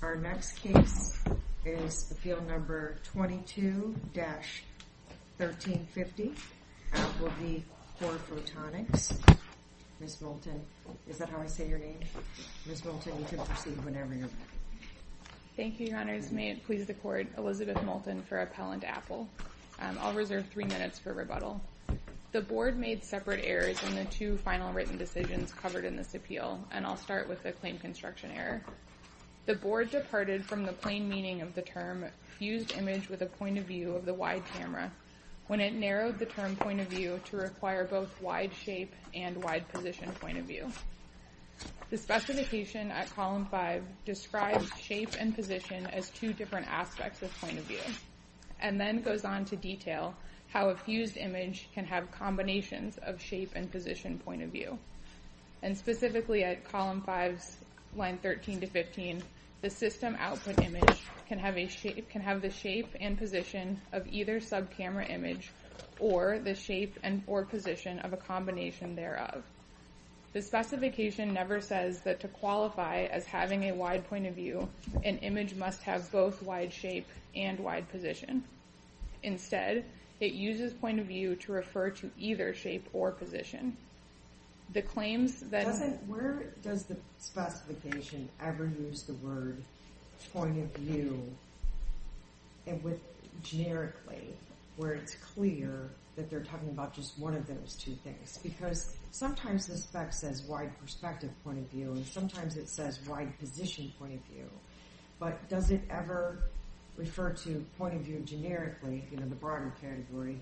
The board made separate errors in the two final written decisions covered in this appeal, and I'll start with the claim construction error. The board departed from the plain meaning of the term fused image with a point of view of the wide camera when it narrowed the term point of view to require both wide shape and wide position point of view. The specification at column 5 describes shape and position as two different aspects of point of view, and then goes on to detail how a fused image can have combinations of shape and position point of view. And specifically at column 5, line 13 to 15, the system output image can have the shape and position of either sub camera image or the shape and or position of a combination thereof. The specification never says that to qualify as having a wide point of view, an image must have both wide shape and wide position. Instead, it uses point of view to refer to either shape or position. Where does the specification ever use the word point of view generically, where it's clear that they're talking about just one of those two things? Because sometimes the spec says wide perspective point of view, and sometimes it says wide position point of view, but does it ever refer to point of view generically, you know, the broader category,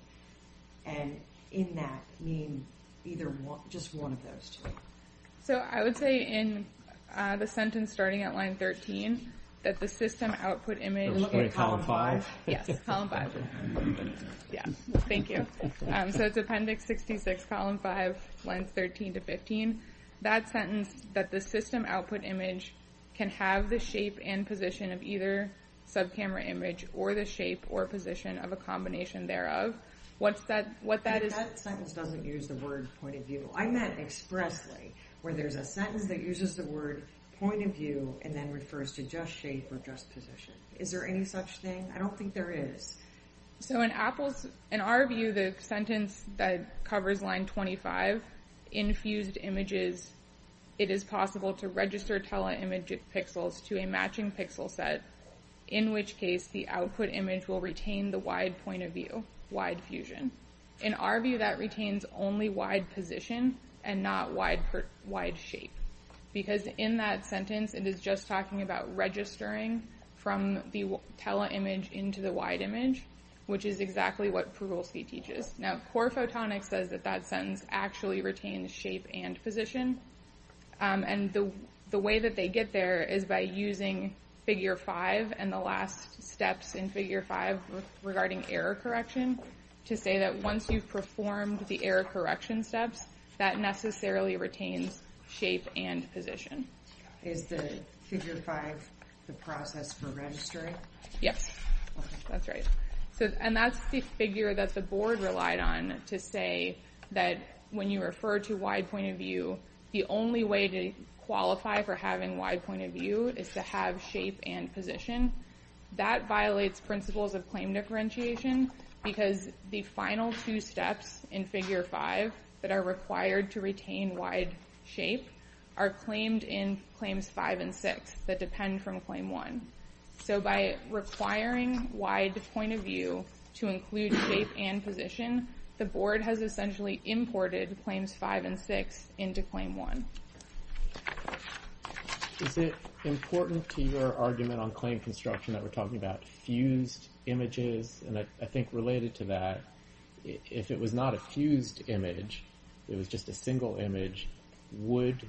and in that mean either just one of those two? So I would say in the sentence starting at line 13, that the system output image... It was going to column 5? Yes, column 5. Yeah, thank you. So it's appendix 66, column 5, lines 13 to 15. That sentence, that the system output image can have the shape and position of either sub camera image or the shape or position of a combination thereof. What's that, what that is... I meant expressly, where there's a sentence that uses the word point of view and then refers to just shape or just position. Is there any such thing? I don't think there is. So in our view, the sentence that covers line 25, in fused images, it is possible to register tele-image pixels to a matching pixel set, in which case the output image will retain the wide point of view, wide fusion. In our view, that retains only wide position and not wide shape. Because in that sentence, it is just talking about registering from the tele-image into the wide image, which is exactly what Prugleski teaches. Now, Core Photonics says that that sentence actually retains shape and position. And the way that they get there is by using figure 5 and the last steps in figure 5 regarding error correction to say that once you've performed the error correction steps, that necessarily retains shape and position. Is the figure 5 the process for registering? Yes, that's right. And that's the figure that the board relied on to say that when you refer to wide point of view, the only way to qualify for having wide point of view is to have shape and position. That violates principles of claim differentiation because the final two steps in figure 5 that are required to retain wide shape are claimed in claims 5 and 6 that depend from claim 1. So by requiring wide point of view to include shape and position, the board has essentially imported claims 5 and 6 into claim 1. Is it important to your argument on claim construction that we're talking about fused images? And I think related to that, if it was not a fused image, it was just a single image, would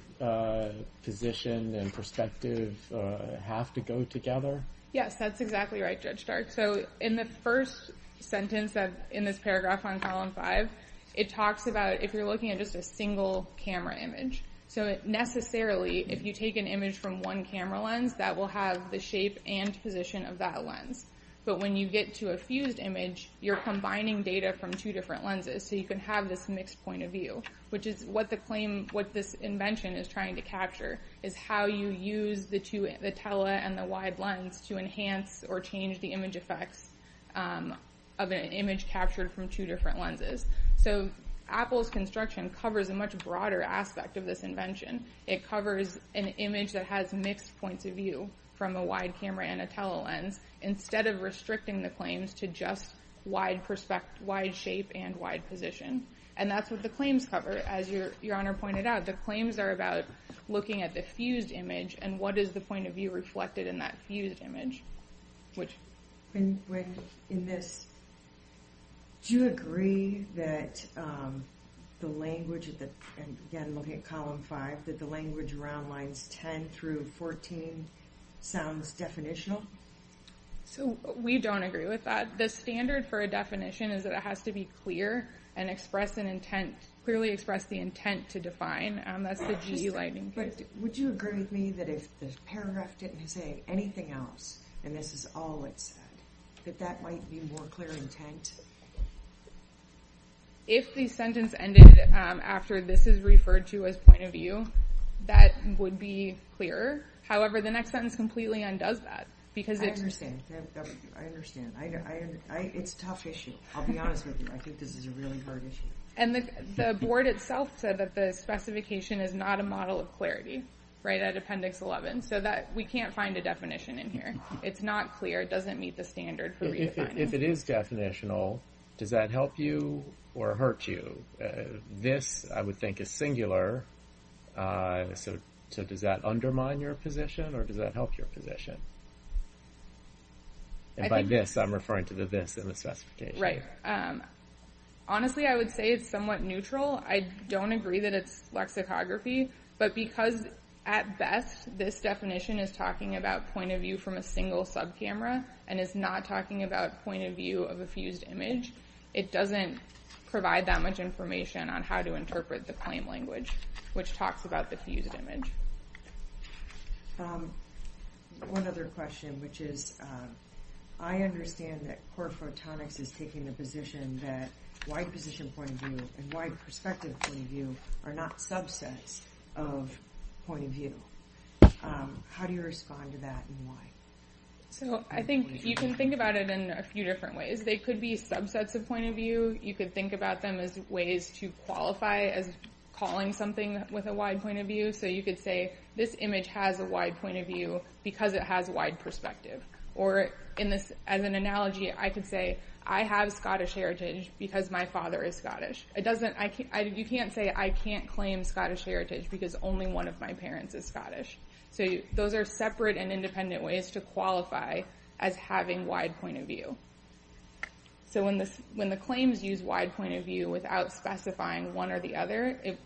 position and perspective have to go together? Yes, that's exactly right, Judge Dart. So in the first sentence in this paragraph on column 5, it talks about if you're looking at just a single camera image. So necessarily, if you take an image from one camera lens, that will have the shape and position of that lens. But when you get to a fused image, you're combining data from two different lenses, so you can have this mixed point of view, which is what this invention is trying to capture, is how you use the tele and the wide lens to enhance or change the image effects of an image captured from two different lenses. So Apple's construction covers a much broader aspect of this invention. It covers an image that has mixed points of view from a wide camera and a tele lens, instead of restricting the claims to just wide shape and wide position. And that's what the claims cover. As your Honor pointed out, the claims are about looking at the fused image and what is the point of view reflected in that fused image. In this, do you agree that the language around lines 10 through 14 sounds definitional? We don't agree with that. The standard for a definition is that it has to be clear and clearly express the intent to define. Would you agree with me that if the paragraph didn't say anything else, and this is all it said, that that might be more clear intent? If the sentence ended after this is referred to as point of view, that would be clearer. However, the next sentence completely undoes that. I understand. I understand. It's a tough issue. I'll be honest with you. I think this is a really hard issue. And the board itself said that the specification is not a model of clarity, right at appendix 11. So we can't find a definition in here. It's not clear. It doesn't meet the standard for re-defining. If it is definitional, does that help you or hurt you? This, I would think, is singular. So does that undermine your position or does that help your position? And by this, I'm referring to the this in the specification. Right. Honestly, I would say it's somewhat neutral. I don't agree that it's lexicography, but because at best this definition is talking about point of view from a single sub-camera and is not talking about point of view of a fused image, it doesn't provide that much information on how to interpret the claim language, which talks about the fused image. One other question, which is, I understand that core photonics is taking the position that wide position point of view and wide perspective point of view are not subsets of point of view. How do you respond to that and why? So I think you can think about it in a few different ways. They could be subsets of point of view. You could think about them as ways to qualify as calling something with a wide point of view. So you could say, this image has a wide point of view because it has a wide perspective. Or as an analogy, I could say, I have Scottish heritage because my father is Scottish. You can't say, I can't claim Scottish heritage because only one of my parents is Scottish. So those are separate and independent ways to qualify as having wide point of view. So when the claims use wide point of view without specifying one or the other, it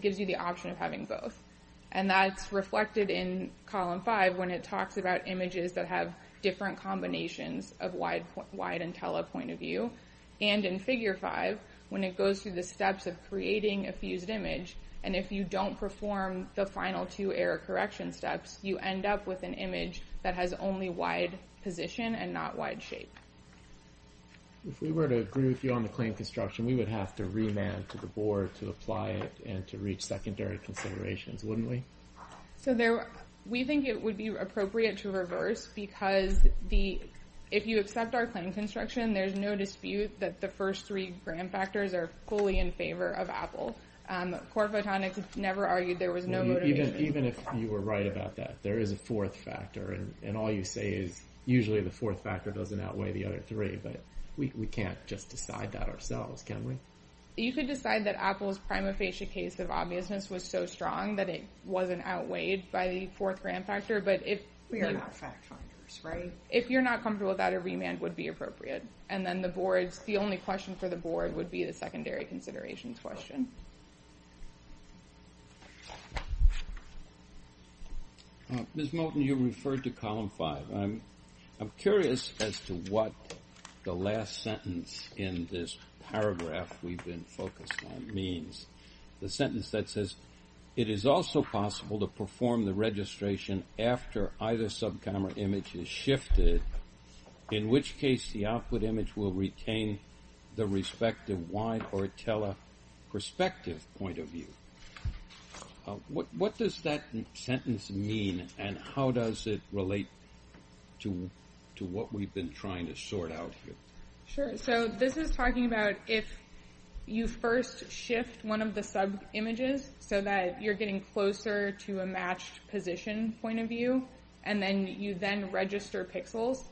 gives you the option of having both. And that's reflected in column five when it talks about images that have different combinations of wide and tele point of view. And in figure five, when it goes through the steps of creating a fused image. And if you don't perform the final two error correction steps, you end up with an image that has only wide position and not wide shape. If we were to agree with you on the claim construction, we would have to remand to the board to apply it and to reach secondary considerations, wouldn't we? So we think it would be appropriate to reverse because if you accept our claim construction, there's no dispute that the first three grand factors are fully in favor of Apple. Core Photonics never argued there was no motivation. Even if you were right about that, there is a fourth factor and all you say is usually the fourth factor doesn't outweigh the other three, but we can't just decide that ourselves, can we? You could decide that Apple's prima facie case of obviousness was so strong that it wasn't outweighed by the fourth grand factor. We are not fact finders, right? If you're not comfortable with that, a remand would be appropriate. And then the boards, the only question for the board would be the secondary considerations question. Ms. Moten, you referred to column five. I'm curious as to what the last sentence in this paragraph we've been focused on means. The sentence that says, it is also possible to perform the registration after either subcamera image is shifted, in which case the output image will retain the respective wide or teleperspective point of view. What does that sentence mean and how does it relate to what we've been trying to sort out here? Sure, so this is talking about if you first shift one of the sub-images so that you're getting closer to a matched position point of view and then you then register pixels.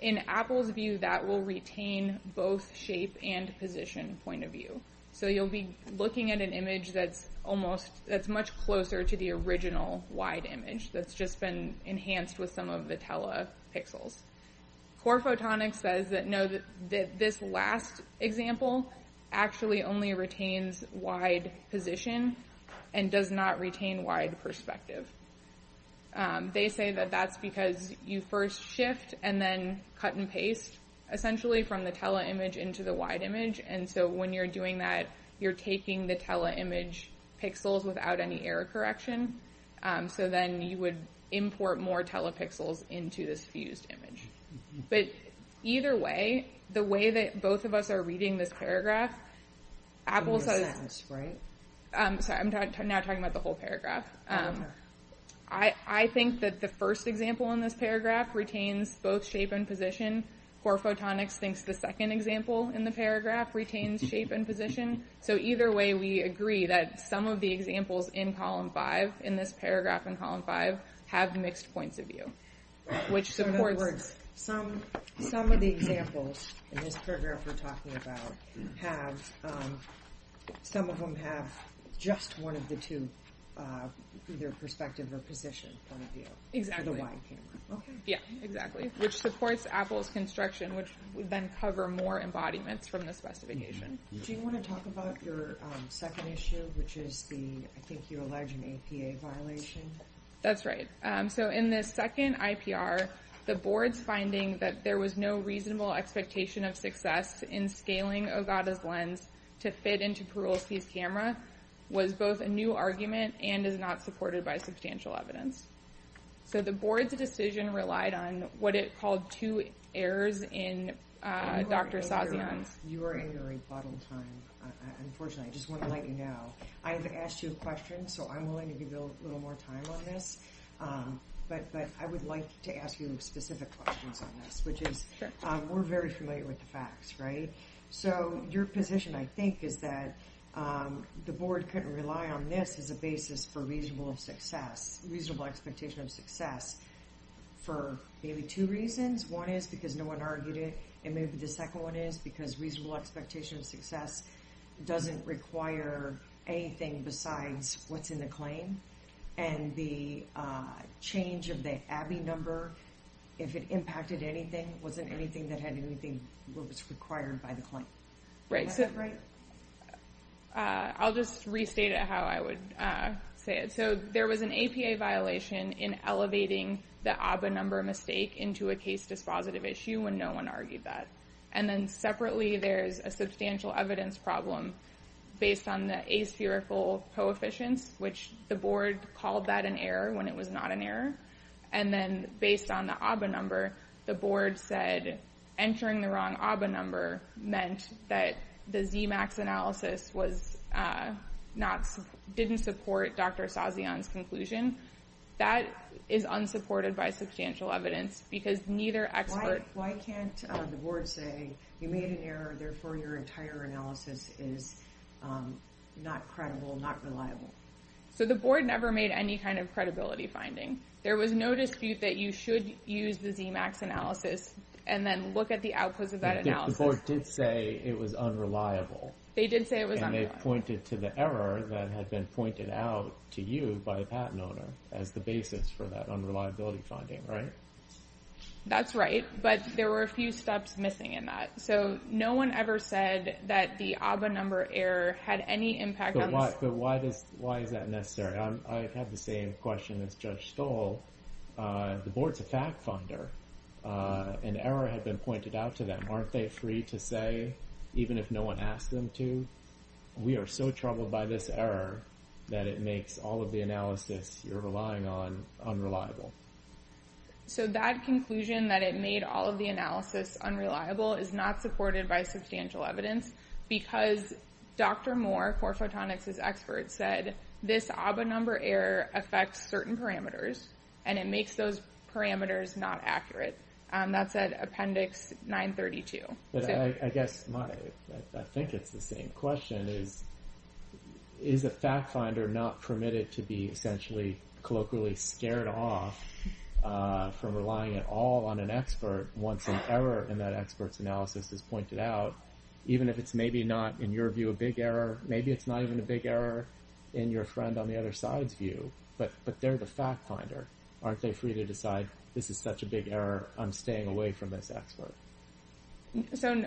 In Apple's view, that will retain both shape and position point of view. So you'll be looking at an image that's much closer to the original wide image that's just been enhanced with some of the telepixels. Core Photonics says that this last example actually only retains wide position and does not retain wide perspective. They say that that's because you first shift and then cut and paste essentially from the teleimage into the wide image. And so when you're doing that, you're taking the teleimage pixels without any error correction. So then you would import more telepixels into this fused image. But either way, the way that both of us are reading this paragraph, I think that the first example in this paragraph retains both shape and position. Core Photonics thinks the second example in the paragraph retains shape and position. So either way, we agree that some of the examples in this paragraph in column five have mixed points of view. So in other words, some of the examples in this paragraph we're talking about, some of them have just one of the two, either perspective or position point of view for the wide camera. Yeah, exactly. Which supports Apple's construction, which would then cover more embodiments from the specification. Do you want to talk about your second issue, which is the, I think you allege, an APA violation? That's right. So in this second IPR, the board's finding that there was no reasonable expectation of success in scaling Ogata's lens to fit into Perulski's camera was both a new argument and is not supported by substantial evidence. So the board's decision relied on what it called two errors in Dr. Sazian's. You are in your rebuttal time. Unfortunately, I just want to let you know, I haven't asked you a question, so I'm willing to give you a little more time on this. But but I would like to ask you specific questions on this, which is we're very familiar with the facts. Right. So your position, I think, is that the board couldn't rely on this as a basis for reasonable success, reasonable expectation of success. For maybe two reasons. One is because no one argued it. And maybe the second one is because reasonable expectation of success doesn't require anything besides what's in the claim. And the change of the ABI number, if it impacted anything, wasn't anything that had anything that was required by the claim. Right. I'll just restate it how I would say it. So there was an APA violation in elevating the ABI number mistake into a case dispositive issue when no one argued that. And then separately, there's a substantial evidence problem based on the aspherical coefficients, which the board called that an error when it was not an error. And then based on the ABI number, the board said entering the wrong ABI number meant that the ZMAX analysis was not didn't support Dr. Sazian's conclusion. That is unsupported by substantial evidence because neither expert. Why can't the board say you made an error? Therefore, your entire analysis is not credible, not reliable. So the board never made any kind of credibility finding. There was no dispute that you should use the ZMAX analysis and then look at the outputs of that analysis. The board did say it was unreliable. They did say it was unreliable. And they pointed to the error that had been pointed out to you by a patent owner as the basis for that unreliability finding. Right. That's right. But there were a few steps missing in that. So no one ever said that the ABI number error had any impact. But why does why is that necessary? I have the same question as Judge Stoll. The board's a fact finder. An error had been pointed out to them. Aren't they free to say even if no one asked them to? We are so troubled by this error that it makes all of the analysis you're relying on unreliable. So that conclusion that it made all of the analysis unreliable is not supported by substantial evidence because Dr. Moore, Core Photonics' expert, said this ABI number error affects certain parameters and it makes those parameters not accurate. That's at Appendix 932. I guess I think it's the same question is. Is a fact finder not permitted to be essentially colloquially scared off from relying at all on an expert once an error in that expert's analysis is pointed out? Even if it's maybe not, in your view, a big error, maybe it's not even a big error in your friend on the other side's view. But but they're the fact finder. Aren't they free to decide this is such a big error? I'm staying away from this expert. So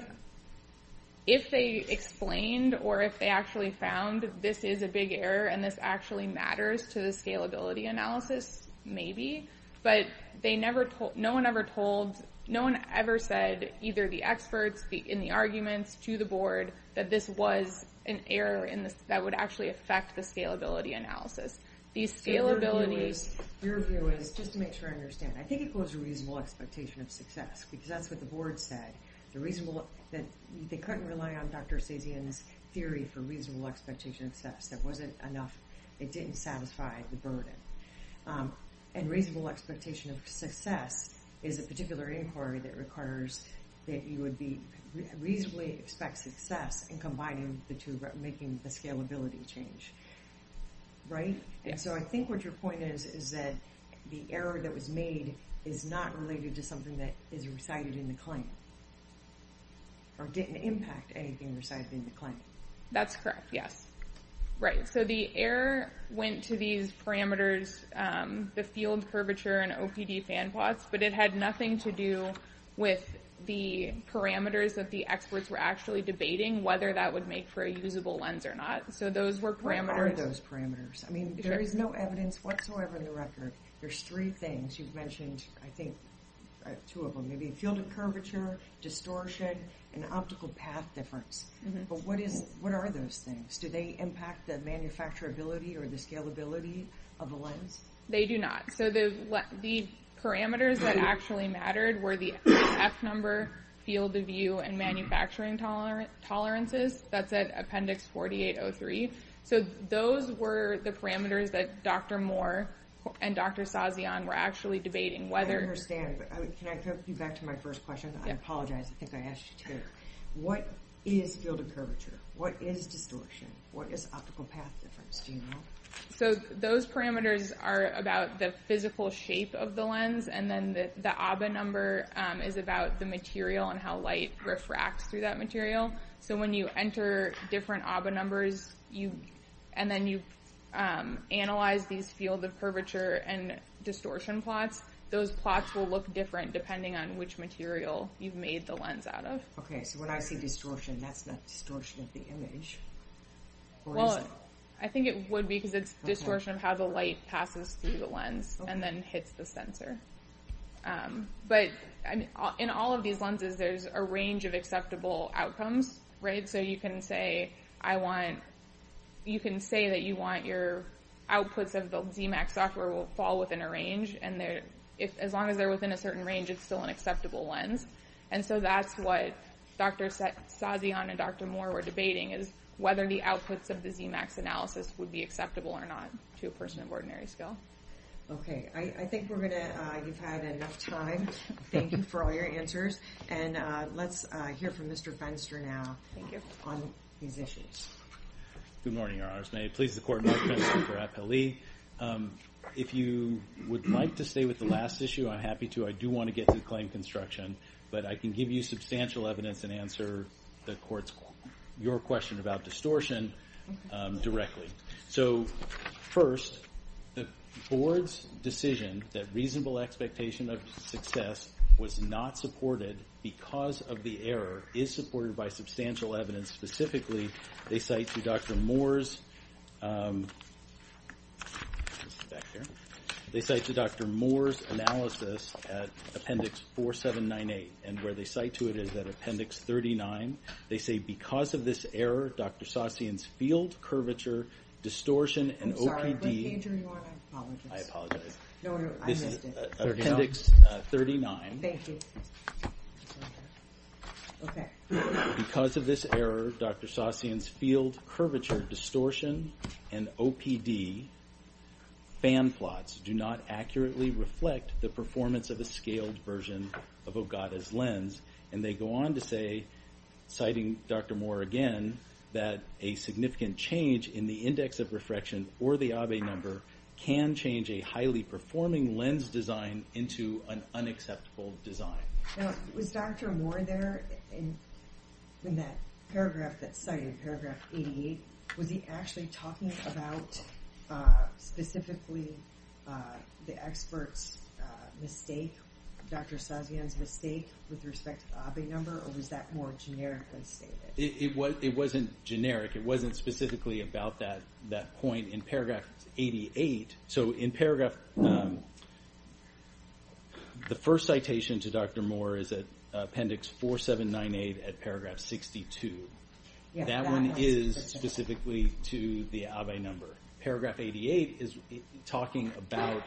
if they explained or if they actually found this is a big error and this actually matters to the scalability analysis, maybe. But they never told no one ever told no one ever said either the experts in the arguments to the board that this was an error in this that would actually affect the scalability analysis. These scalability. Your view is just to make sure I understand. I think it was a reasonable expectation of success because that's what the board said. The reasonable that they couldn't rely on Dr. Sazian's theory for reasonable expectation of success. That wasn't enough. It didn't satisfy the burden. And reasonable expectation of success is a particular inquiry that requires that you would be reasonably expect success in combining the two making the scalability change. Right. And so I think what your point is, is that the error that was made is not related to something that is recited in the claim. Or didn't impact anything recited in the claim. That's correct. Yes. Right. So the error went to these parameters, the field curvature and OPD fan plots. But it had nothing to do with the parameters that the experts were actually debating whether that would make for a usable lens or not. So those were parameters. What are those parameters? I mean, there is no evidence whatsoever in the record. There's three things you've mentioned. I think two of them. Maybe a field of curvature, distortion, and optical path difference. But what are those things? Do they impact the manufacturability or the scalability of the lens? They do not. So the parameters that actually mattered were the F number, field of view, and manufacturing tolerances. That's at appendix 4803. So those were the parameters that Dr. Moore and Dr. Sazian were actually debating whether... I understand. But can I go back to my first question? I apologize. I think I asked you too. What is field of curvature? What is distortion? What is optical path difference? Do you know? So those parameters are about the physical shape of the lens. And then the ABBA number is about the material and how light refracts through that material. So when you enter different ABBA numbers and then you analyze these field of curvature and distortion plots, those plots will look different depending on which material you've made the lens out of. Okay. So when I see distortion, that's not distortion of the image. Well, I think it would be because it's distortion of how the light passes through the lens and then hits the sensor. But in all of these lenses, there's a range of acceptable outcomes. So you can say that you want your outputs of the ZMAX software will fall within a range. And as long as they're within a certain range, it's still an acceptable lens. And so that's what Dr. Sazian and Dr. Moore were debating, is whether the outputs of the ZMAX analysis would be acceptable or not to a person of ordinary skill. Okay. I think we're going to—you've had enough time. Thank you for all your answers. And let's hear from Mr. Fenster now on these issues. Good morning, Your Honors. May it please the Court, my name is Dr. Raphael Lee. If you would like to stay with the last issue, I'm happy to. I do want to get to the claim construction. But I can give you substantial evidence and answer the Court's—your question about distortion directly. So first, the Board's decision that reasonable expectation of success was not supported because of the error is supported by substantial evidence. Specifically, they cite to Dr. Moore's analysis at Appendix 4798. And where they cite to it is at Appendix 39. They say, because of this error, Dr. Sazian's field curvature distortion and OPD— I'm sorry, what page are you on? I apologize. I apologize. No, no, I missed it. This is Appendix 39. Thank you. Okay. Because of this error, Dr. Sazian's field curvature distortion and OPD fan plots do not accurately reflect the performance of a scaled version of Ogata's lens. And they go on to say, citing Dr. Moore again, that a significant change in the index of refraction or the Abbe number can change a highly performing lens design into an unacceptable design. Now, was Dr. Moore there in that paragraph that's cited, paragraph 88? Was he actually talking about specifically the expert's mistake, Dr. Sazian's mistake, with respect to the Abbe number? Or was that more generically stated? It wasn't generic. It wasn't specifically about that point in paragraph 88. So in paragraph—the first citation to Dr. Moore is at Appendix 4798 at paragraph 62. That one is specifically to the Abbe number. Paragraph 88 is talking about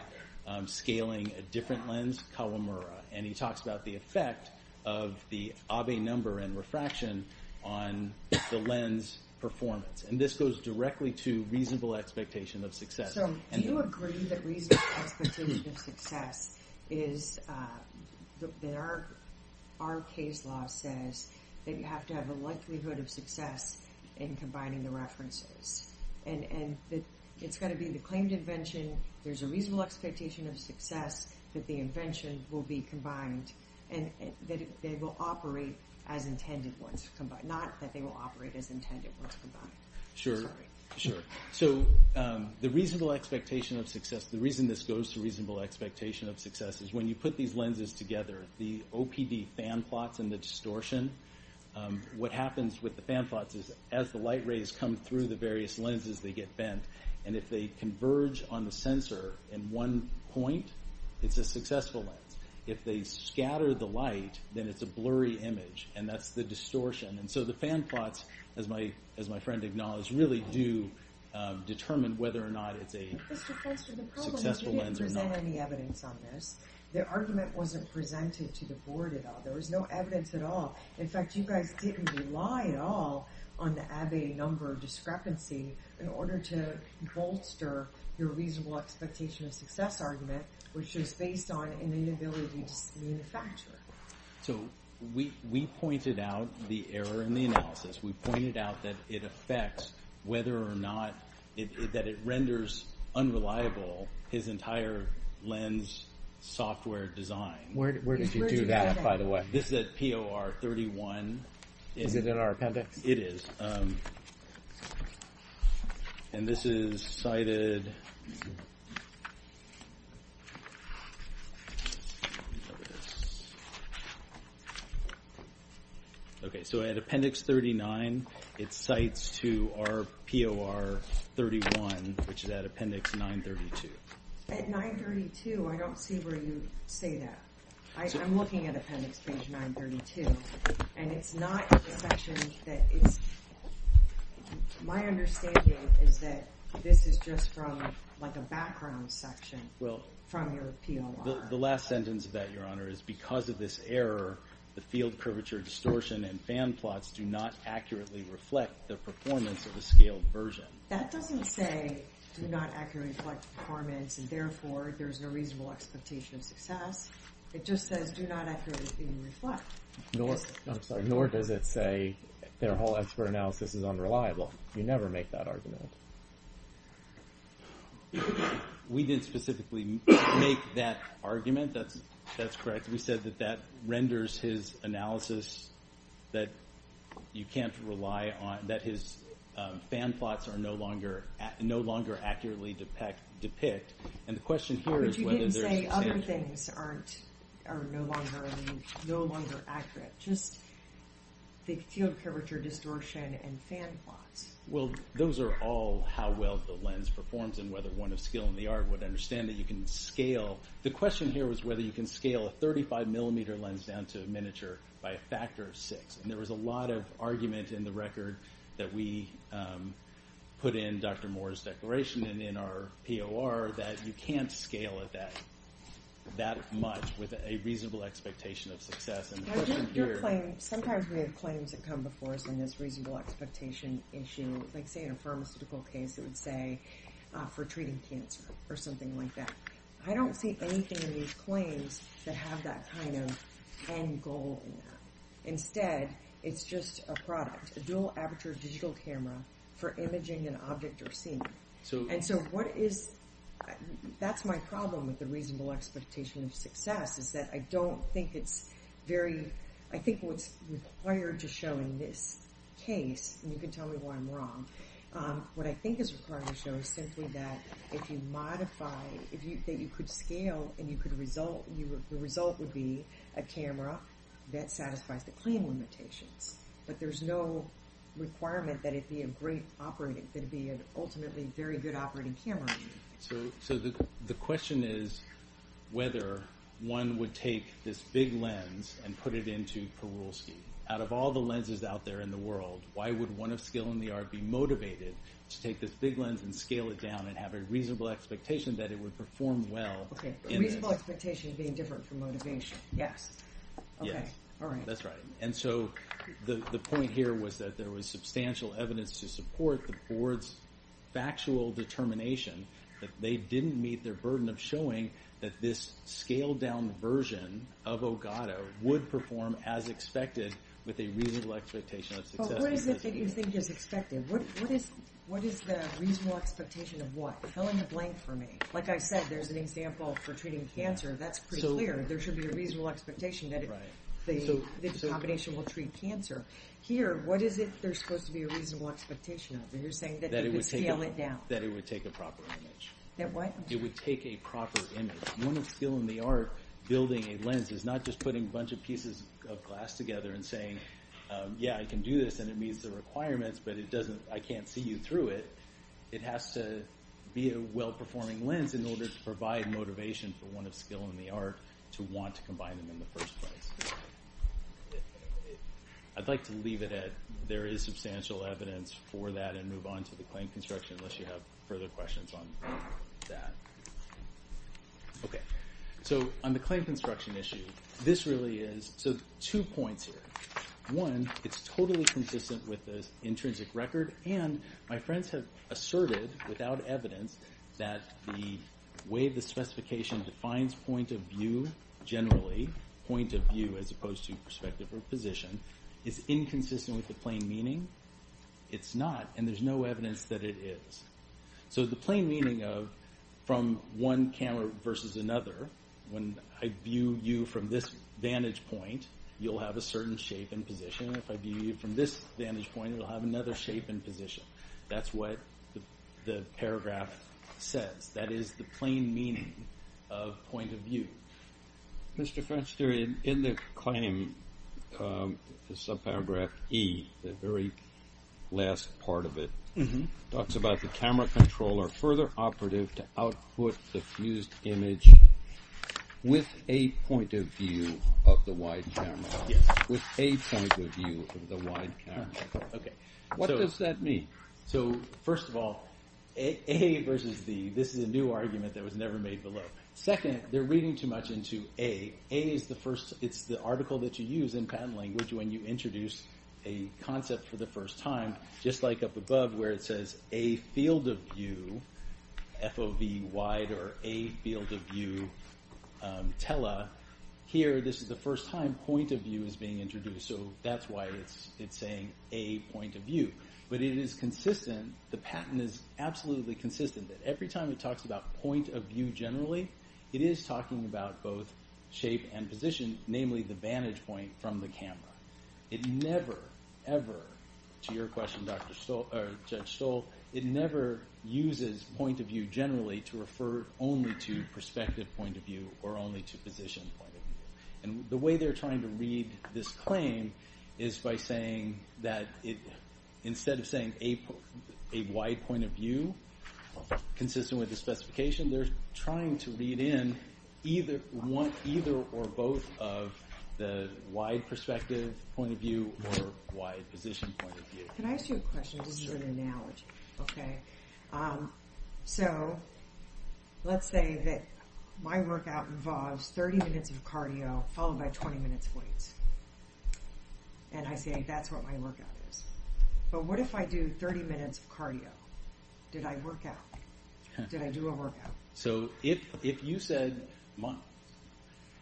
scaling a different lens, Kawamura. And he talks about the effect of the Abbe number and refraction on the lens performance. And this goes directly to reasonable expectation of success. So do you agree that reasonable expectation of success is—our case law says that you have to have a likelihood of success in combining the references? And it's got to be the claimed invention. There's a reasonable expectation of success that the invention will be combined and that it will operate as intended once combined. Not that they will operate as intended once combined. Sure. So the reasonable expectation of success—the reason this goes to reasonable expectation of success is when you put these lenses together, the OPD fan plots and the distortion, what happens with the fan plots is as the light rays come through the various lenses, they get bent. And if they converge on the sensor in one point, it's a successful lens. If they scatter the light, then it's a blurry image. And that's the distortion. And so the fan plots, as my friend acknowledged, really do determine whether or not it's a successful lens or not. You didn't present any evidence on this. The argument wasn't presented to the board at all. There was no evidence at all. In fact, you guys didn't rely at all on the Abbe number discrepancy in order to bolster your reasonable expectation of success argument, which is based on an inability to manufacture. So we pointed out the error in the analysis. We pointed out that it affects whether or not—that it renders unreliable his entire lens software design. Where did you do that, by the way? This is at POR 31. Is it in our appendix? It is. And this is cited— Okay, so at appendix 39, it cites to our POR 31, which is at appendix 932. At 932, I don't see where you say that. I'm looking at appendix page 932. And it's not in the section that it's—my understanding is that this is just from, like, a background section from your POR. The last sentence of that, Your Honor, is because of this error, the field curvature distortion and fan plots do not accurately reflect the performance of a scaled version. That doesn't say do not accurately reflect performance, and therefore there's no reasonable expectation of success. It just says do not accurately reflect. I'm sorry. Nor does it say their whole expert analysis is unreliable. You never make that argument. We didn't specifically make that argument. That's correct. We said that that renders his analysis that you can't rely on—that his fan plots are no longer accurately depict. But you didn't say other things are no longer accurate, just the field curvature distortion and fan plots. Well, those are all how well the lens performs and whether one of skill in the art would understand that you can scale. The question here was whether you can scale a 35-millimeter lens down to a miniature by a factor of six. There was a lot of argument in the record that we put in Dr. Moore's declaration and in our POR that you can't scale it that much with a reasonable expectation of success. Sometimes we have claims that come before us in this reasonable expectation issue. Like, say, in a pharmaceutical case, it would say for treating cancer or something like that. I don't see anything in these claims that have that kind of end goal in them. Instead, it's just a product, a dual aperture digital camera for imaging an object or scene. And so what is—that's my problem with the reasonable expectation of success is that I don't think it's very—I think what's required to show in this case, and you can tell me why I'm wrong, what I think is required to show is simply that if you modify—that you could scale and you could result—the result would be a camera that satisfies the claim limitations. But there's no requirement that it be a great operating—that it be an ultimately very good operating camera. So the question is whether one would take this big lens and put it into Perulski. Out of all the lenses out there in the world, why would one of skill in the art be motivated to take this big lens and scale it down and have a reasonable expectation that it would perform well? Okay, reasonable expectation being different from motivation, yes. Yes. Okay, all right. That's right. And so the point here was that there was substantial evidence to support the board's factual determination that they didn't meet their burden of showing that this scaled-down version of Ogata would perform as expected with a reasonable expectation of success. But what is it that you think is expected? What is the reasonable expectation of what? Fill in the blank for me. Like I said, there's an example for treating cancer. That's pretty clear. There should be a reasonable expectation that the combination will treat cancer. Here, what is it there's supposed to be a reasonable expectation of? You're saying that you would scale it down. That it would take a proper image. That what? It would take a proper image. One of skill in the art building a lens is not just putting a bunch of pieces of glass together and saying, yeah, I can do this and it meets the requirements, but it doesn't—I can't see you through it. It has to be a well-performing lens in order to provide motivation for one of skill in the art to want to combine them in the first place. I'd like to leave it at there is substantial evidence for that and move on to the claim construction unless you have further questions on that. Okay. So on the claim construction issue, this really is—so two points here. One, it's totally consistent with the intrinsic record, and my friends have asserted without evidence that the way the specification defines point of view generally, point of view as opposed to perspective or position, is inconsistent with the plain meaning. It's not, and there's no evidence that it is. So the plain meaning of from one camera versus another, when I view you from this vantage point, you'll have a certain shape and position. If I view you from this vantage point, you'll have another shape and position. That's what the paragraph says. That is the plain meaning of point of view. Mr. French, in the claim, the subparagraph E, the very last part of it, talks about the camera controller further operative to output the fused image with a point of view of the wide camera. Yes. With a point of view of the wide camera. Okay. What does that mean? So first of all, A versus B, this is a new argument that was never made below. Second, they're reading too much into A. A is the first, it's the article that you use in patent language when you introduce a concept for the first time. Just like up above where it says A field of view, FOV wide or A field of view tele. Here, this is the first time point of view is being introduced. So that's why it's saying A point of view. But it is consistent, the patent is absolutely consistent that every time it talks about point of view generally, it is talking about both shape and position, namely the vantage point from the camera. It never, ever, to your question, Judge Stoll, it never uses point of view generally to refer only to perspective point of view or only to position point of view. And the way they're trying to read this claim is by saying that instead of saying a wide point of view consistent with the specification, they're trying to read in either or both of the wide perspective point of view or wide position point of view. Can I ask you a question? Sure. This is an analogy. Okay. So let's say that my workout involves 30 minutes of cardio followed by 20 minutes of weights. And I say that's what my workout is. But what if I do 30 minutes of cardio? Did I work out? Did I do a workout? So if you said months,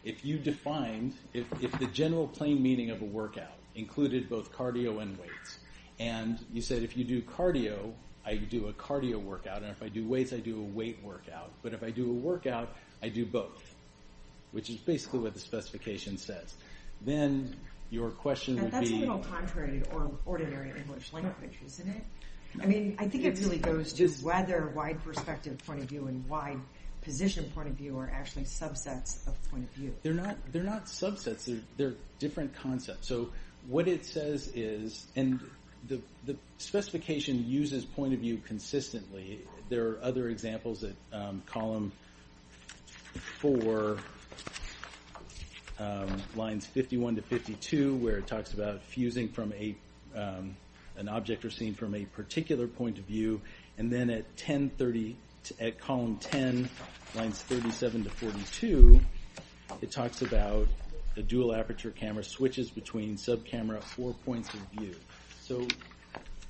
if you defined, if the general plain meaning of a workout included both cardio and weights, and you said if you do cardio, I do a cardio workout. And if I do weights, I do a weight workout. But if I do a workout, I do both, which is basically what the specification says. Then your question would be... That's a little contrary or ordinary English language, isn't it? I mean, I think it really goes to whether wide perspective point of view and wide position point of view are actually subsets of point of view. They're not subsets. They're different concepts. So what it says is, and the specification uses point of view consistently. There are other examples at column four, lines 51 to 52, where it talks about fusing from an object or scene from a particular point of view. And then at column 10, lines 37 to 42, it talks about the dual aperture camera switches between sub camera at four points of view. So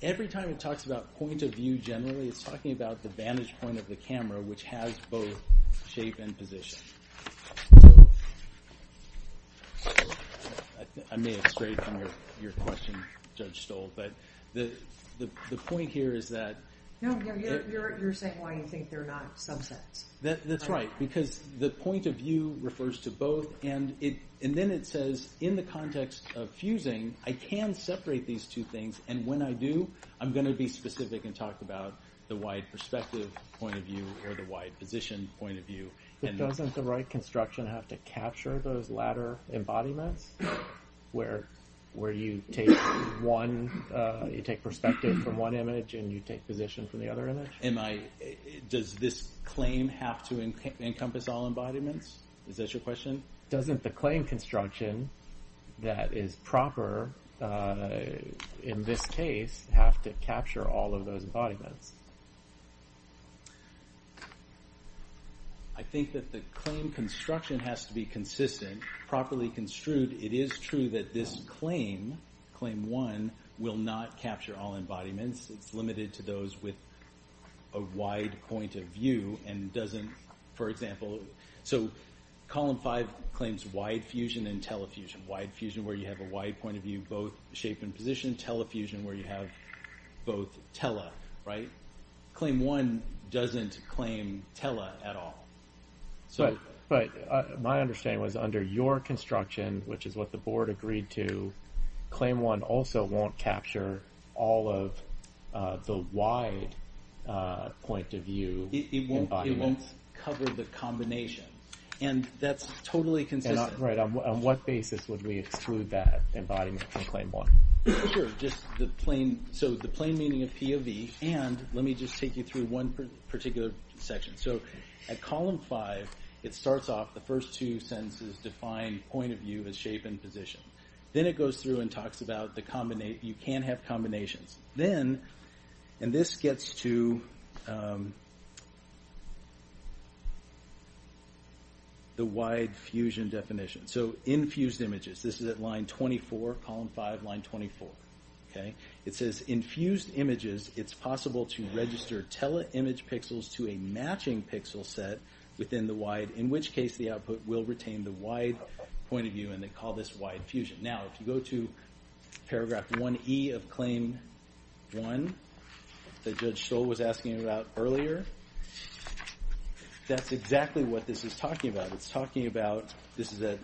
every time it talks about point of view generally, it's talking about the vantage point of the camera, which has both shape and position. I may have strayed from your question, Judge Stoll, but the point here is that... No, you're saying why you think they're not subsets. That's right, because the point of view refers to both. And then it says, in the context of fusing, I can separate these two things. And when I do, I'm going to be specific and talk about the wide perspective point of view or the wide position point of view. But doesn't the right construction have to capture those latter embodiments, where you take perspective from one image and you take position from the other image? Does this claim have to encompass all embodiments? Is that your question? Doesn't the claim construction that is proper in this case have to capture all of those embodiments? I think that the claim construction has to be consistent, properly construed. It is true that this claim, Claim 1, will not capture all embodiments. It's limited to those with a wide point of view and doesn't, for example... So Column 5 claims wide fusion and telefusion. Wide fusion, where you have a wide point of view, both shape and position. Telefusion, where you have both tele, right? Claim 1 doesn't claim tele at all. But my understanding was under your construction, which is what the board agreed to, Claim 1 also won't capture all of the wide point of view embodiments. It won't cover the combination. And that's totally consistent. Right. On what basis would we exclude that embodiment in Claim 1? Sure. So the plain meaning of POV and let me just take you through one particular section. So at Column 5, it starts off, the first two sentences define point of view as shape and position. Then it goes through and talks about you can have combinations. Then, and this gets to the wide fusion definition. So infused images. This is at line 24, Column 5, line 24. It says infused images, it's possible to register tele-image pixels to a matching pixel set within the wide, in which case the output will retain the wide point of view and they call this wide fusion. Now, if you go to Paragraph 1E of Claim 1 that Judge Stoll was asking about earlier, that's exactly what this is talking about. This is at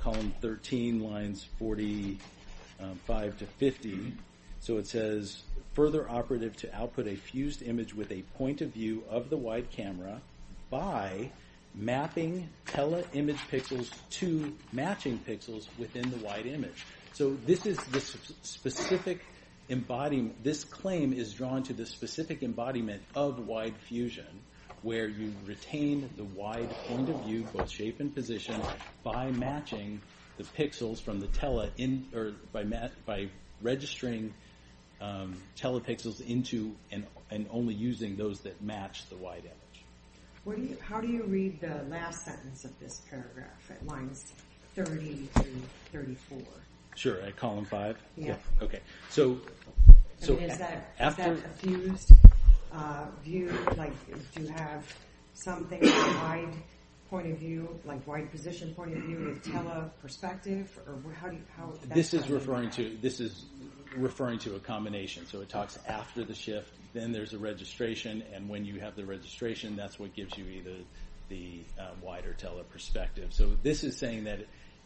Column 13, lines 45 to 50. So it says further operative to output a fused image with a point of view of the wide camera by mapping tele-image pixels to matching pixels within the wide image. So this is the specific embodiment. This claim is drawn to the specific embodiment of wide fusion, where you retain the wide point of view, both shape and position, by registering tele-pixels into and only using those that match the wide image. How do you read the last sentence of this paragraph at lines 30 to 34? Sure, at Column 5? Yeah. Okay. I mean, is that a fused view? Like, do you have something with a wide point of view, like wide position point of view with tele-perspective? This is referring to a combination. So it talks after the shift, then there's a registration, and when you have the registration, that's what gives you either the wide or tele-perspective. So this is saying that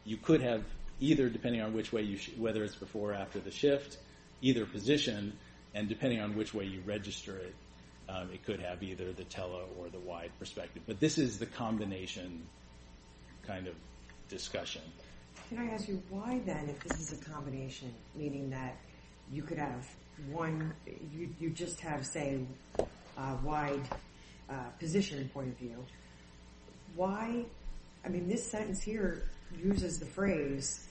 you could have either, depending on whether it's before or after the shift, either position, and depending on which way you register it, it could have either the tele or the wide perspective. But this is the combination kind of discussion. Can I ask you why, then, if this is a combination, meaning that you could have one, you just have, say, a wide position point of view, why, I mean, this sentence here uses the phrase,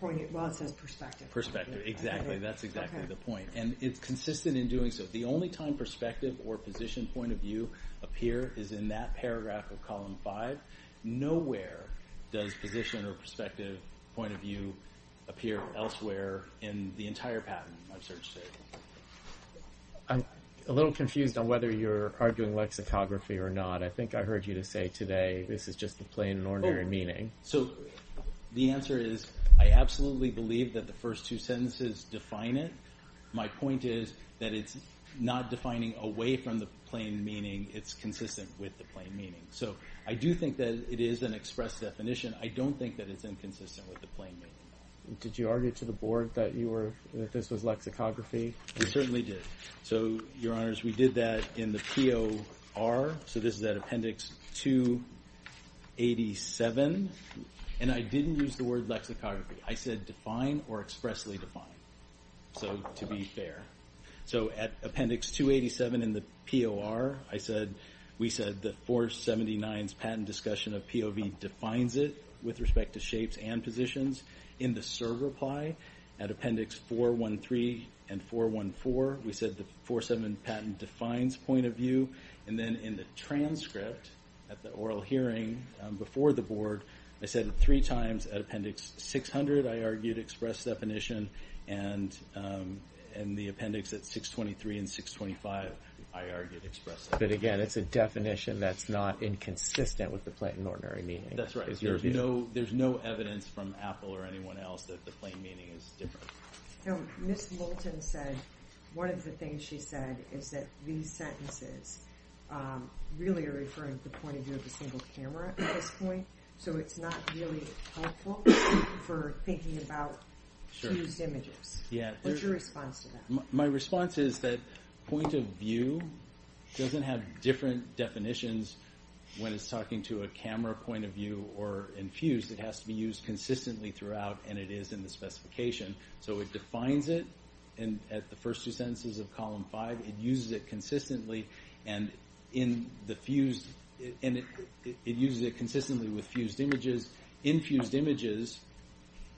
well, it says perspective. Perspective. Exactly. That's exactly the point. And it's consistent in doing so. The only time perspective or position point of view appear is in that paragraph of Column 5. Nowhere does position or perspective point of view appear elsewhere in the entire patent, I'm certain. I'm a little confused on whether you're arguing lexicography or not. I think I heard you say today this is just the plain and ordinary meaning. So the answer is I absolutely believe that the first two sentences define it. My point is that it's not defining away from the plain meaning. It's consistent with the plain meaning. So I do think that it is an express definition. I don't think that it's inconsistent with the plain meaning. Did you argue to the Board that this was lexicography? We certainly did. So, Your Honors, we did that in the POR, so this is at Appendix 287, and I didn't use the word lexicography. I said define or expressly define, so to be fair. So at Appendix 287 in the POR, we said that 479's patent discussion of POV defines it with respect to shapes and positions. In the CER reply at Appendix 413 and 414, we said the 47 patent defines POV. And then in the transcript at the oral hearing before the Board, I said three times at Appendix 600 I argued express definition, and the appendix at 623 and 625 I argued express definition. But again, it's a definition that's not inconsistent with the plain and ordinary meaning. That's right. There's no evidence from Apple or anyone else that the plain meaning is different. No. Ms. Moulton said one of the things she said is that these sentences really are referring to the point of view of a single camera at this point, so it's not really helpful for thinking about used images. What's your response to that? My response is that point of view doesn't have different definitions when it's talking to a camera point of view or in fused. It has to be used consistently throughout, and it is in the specification. So it defines it at the first two sentences of Column 5. It uses it consistently with fused images. In fused images,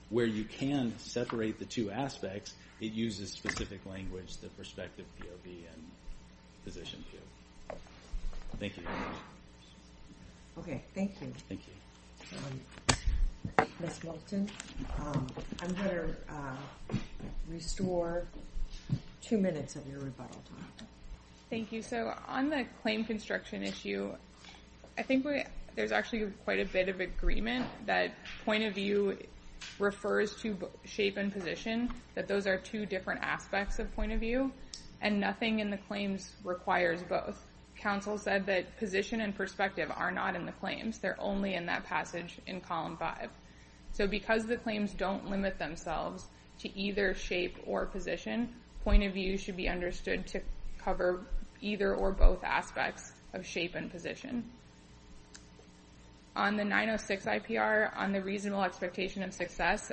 where you can separate the two aspects, it uses specific language, the perspective POV and position fused. Thank you. Okay, thank you. Thank you. Ms. Moulton, I'm going to restore two minutes of your rebuttal time. Thank you. So on the claim construction issue, I think there's actually quite a bit of agreement that point of view refers to shape and position, that those are two different aspects of point of view, and nothing in the claims requires both. Council said that position and perspective are not in the claims. They're only in that passage in Column 5. So because the claims don't limit themselves to either shape or position, point of view should be understood to cover either or both aspects of shape and position. Yes,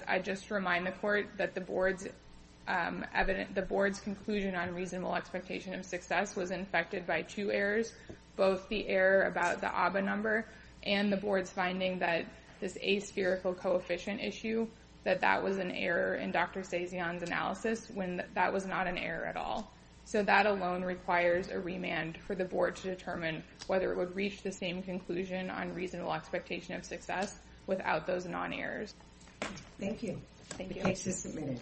I just remind the court that the board's conclusion on reasonable expectation of success was infected by two errors, both the error about the ABBA number and the board's finding that this aspherical coefficient issue, that that was an error in Dr. Stasion's analysis when that was not an error at all. So that alone requires a remand for the board to determine whether it would reach the same conclusion on reasonable expectation of success without those non-errors. Thank you. Thank you.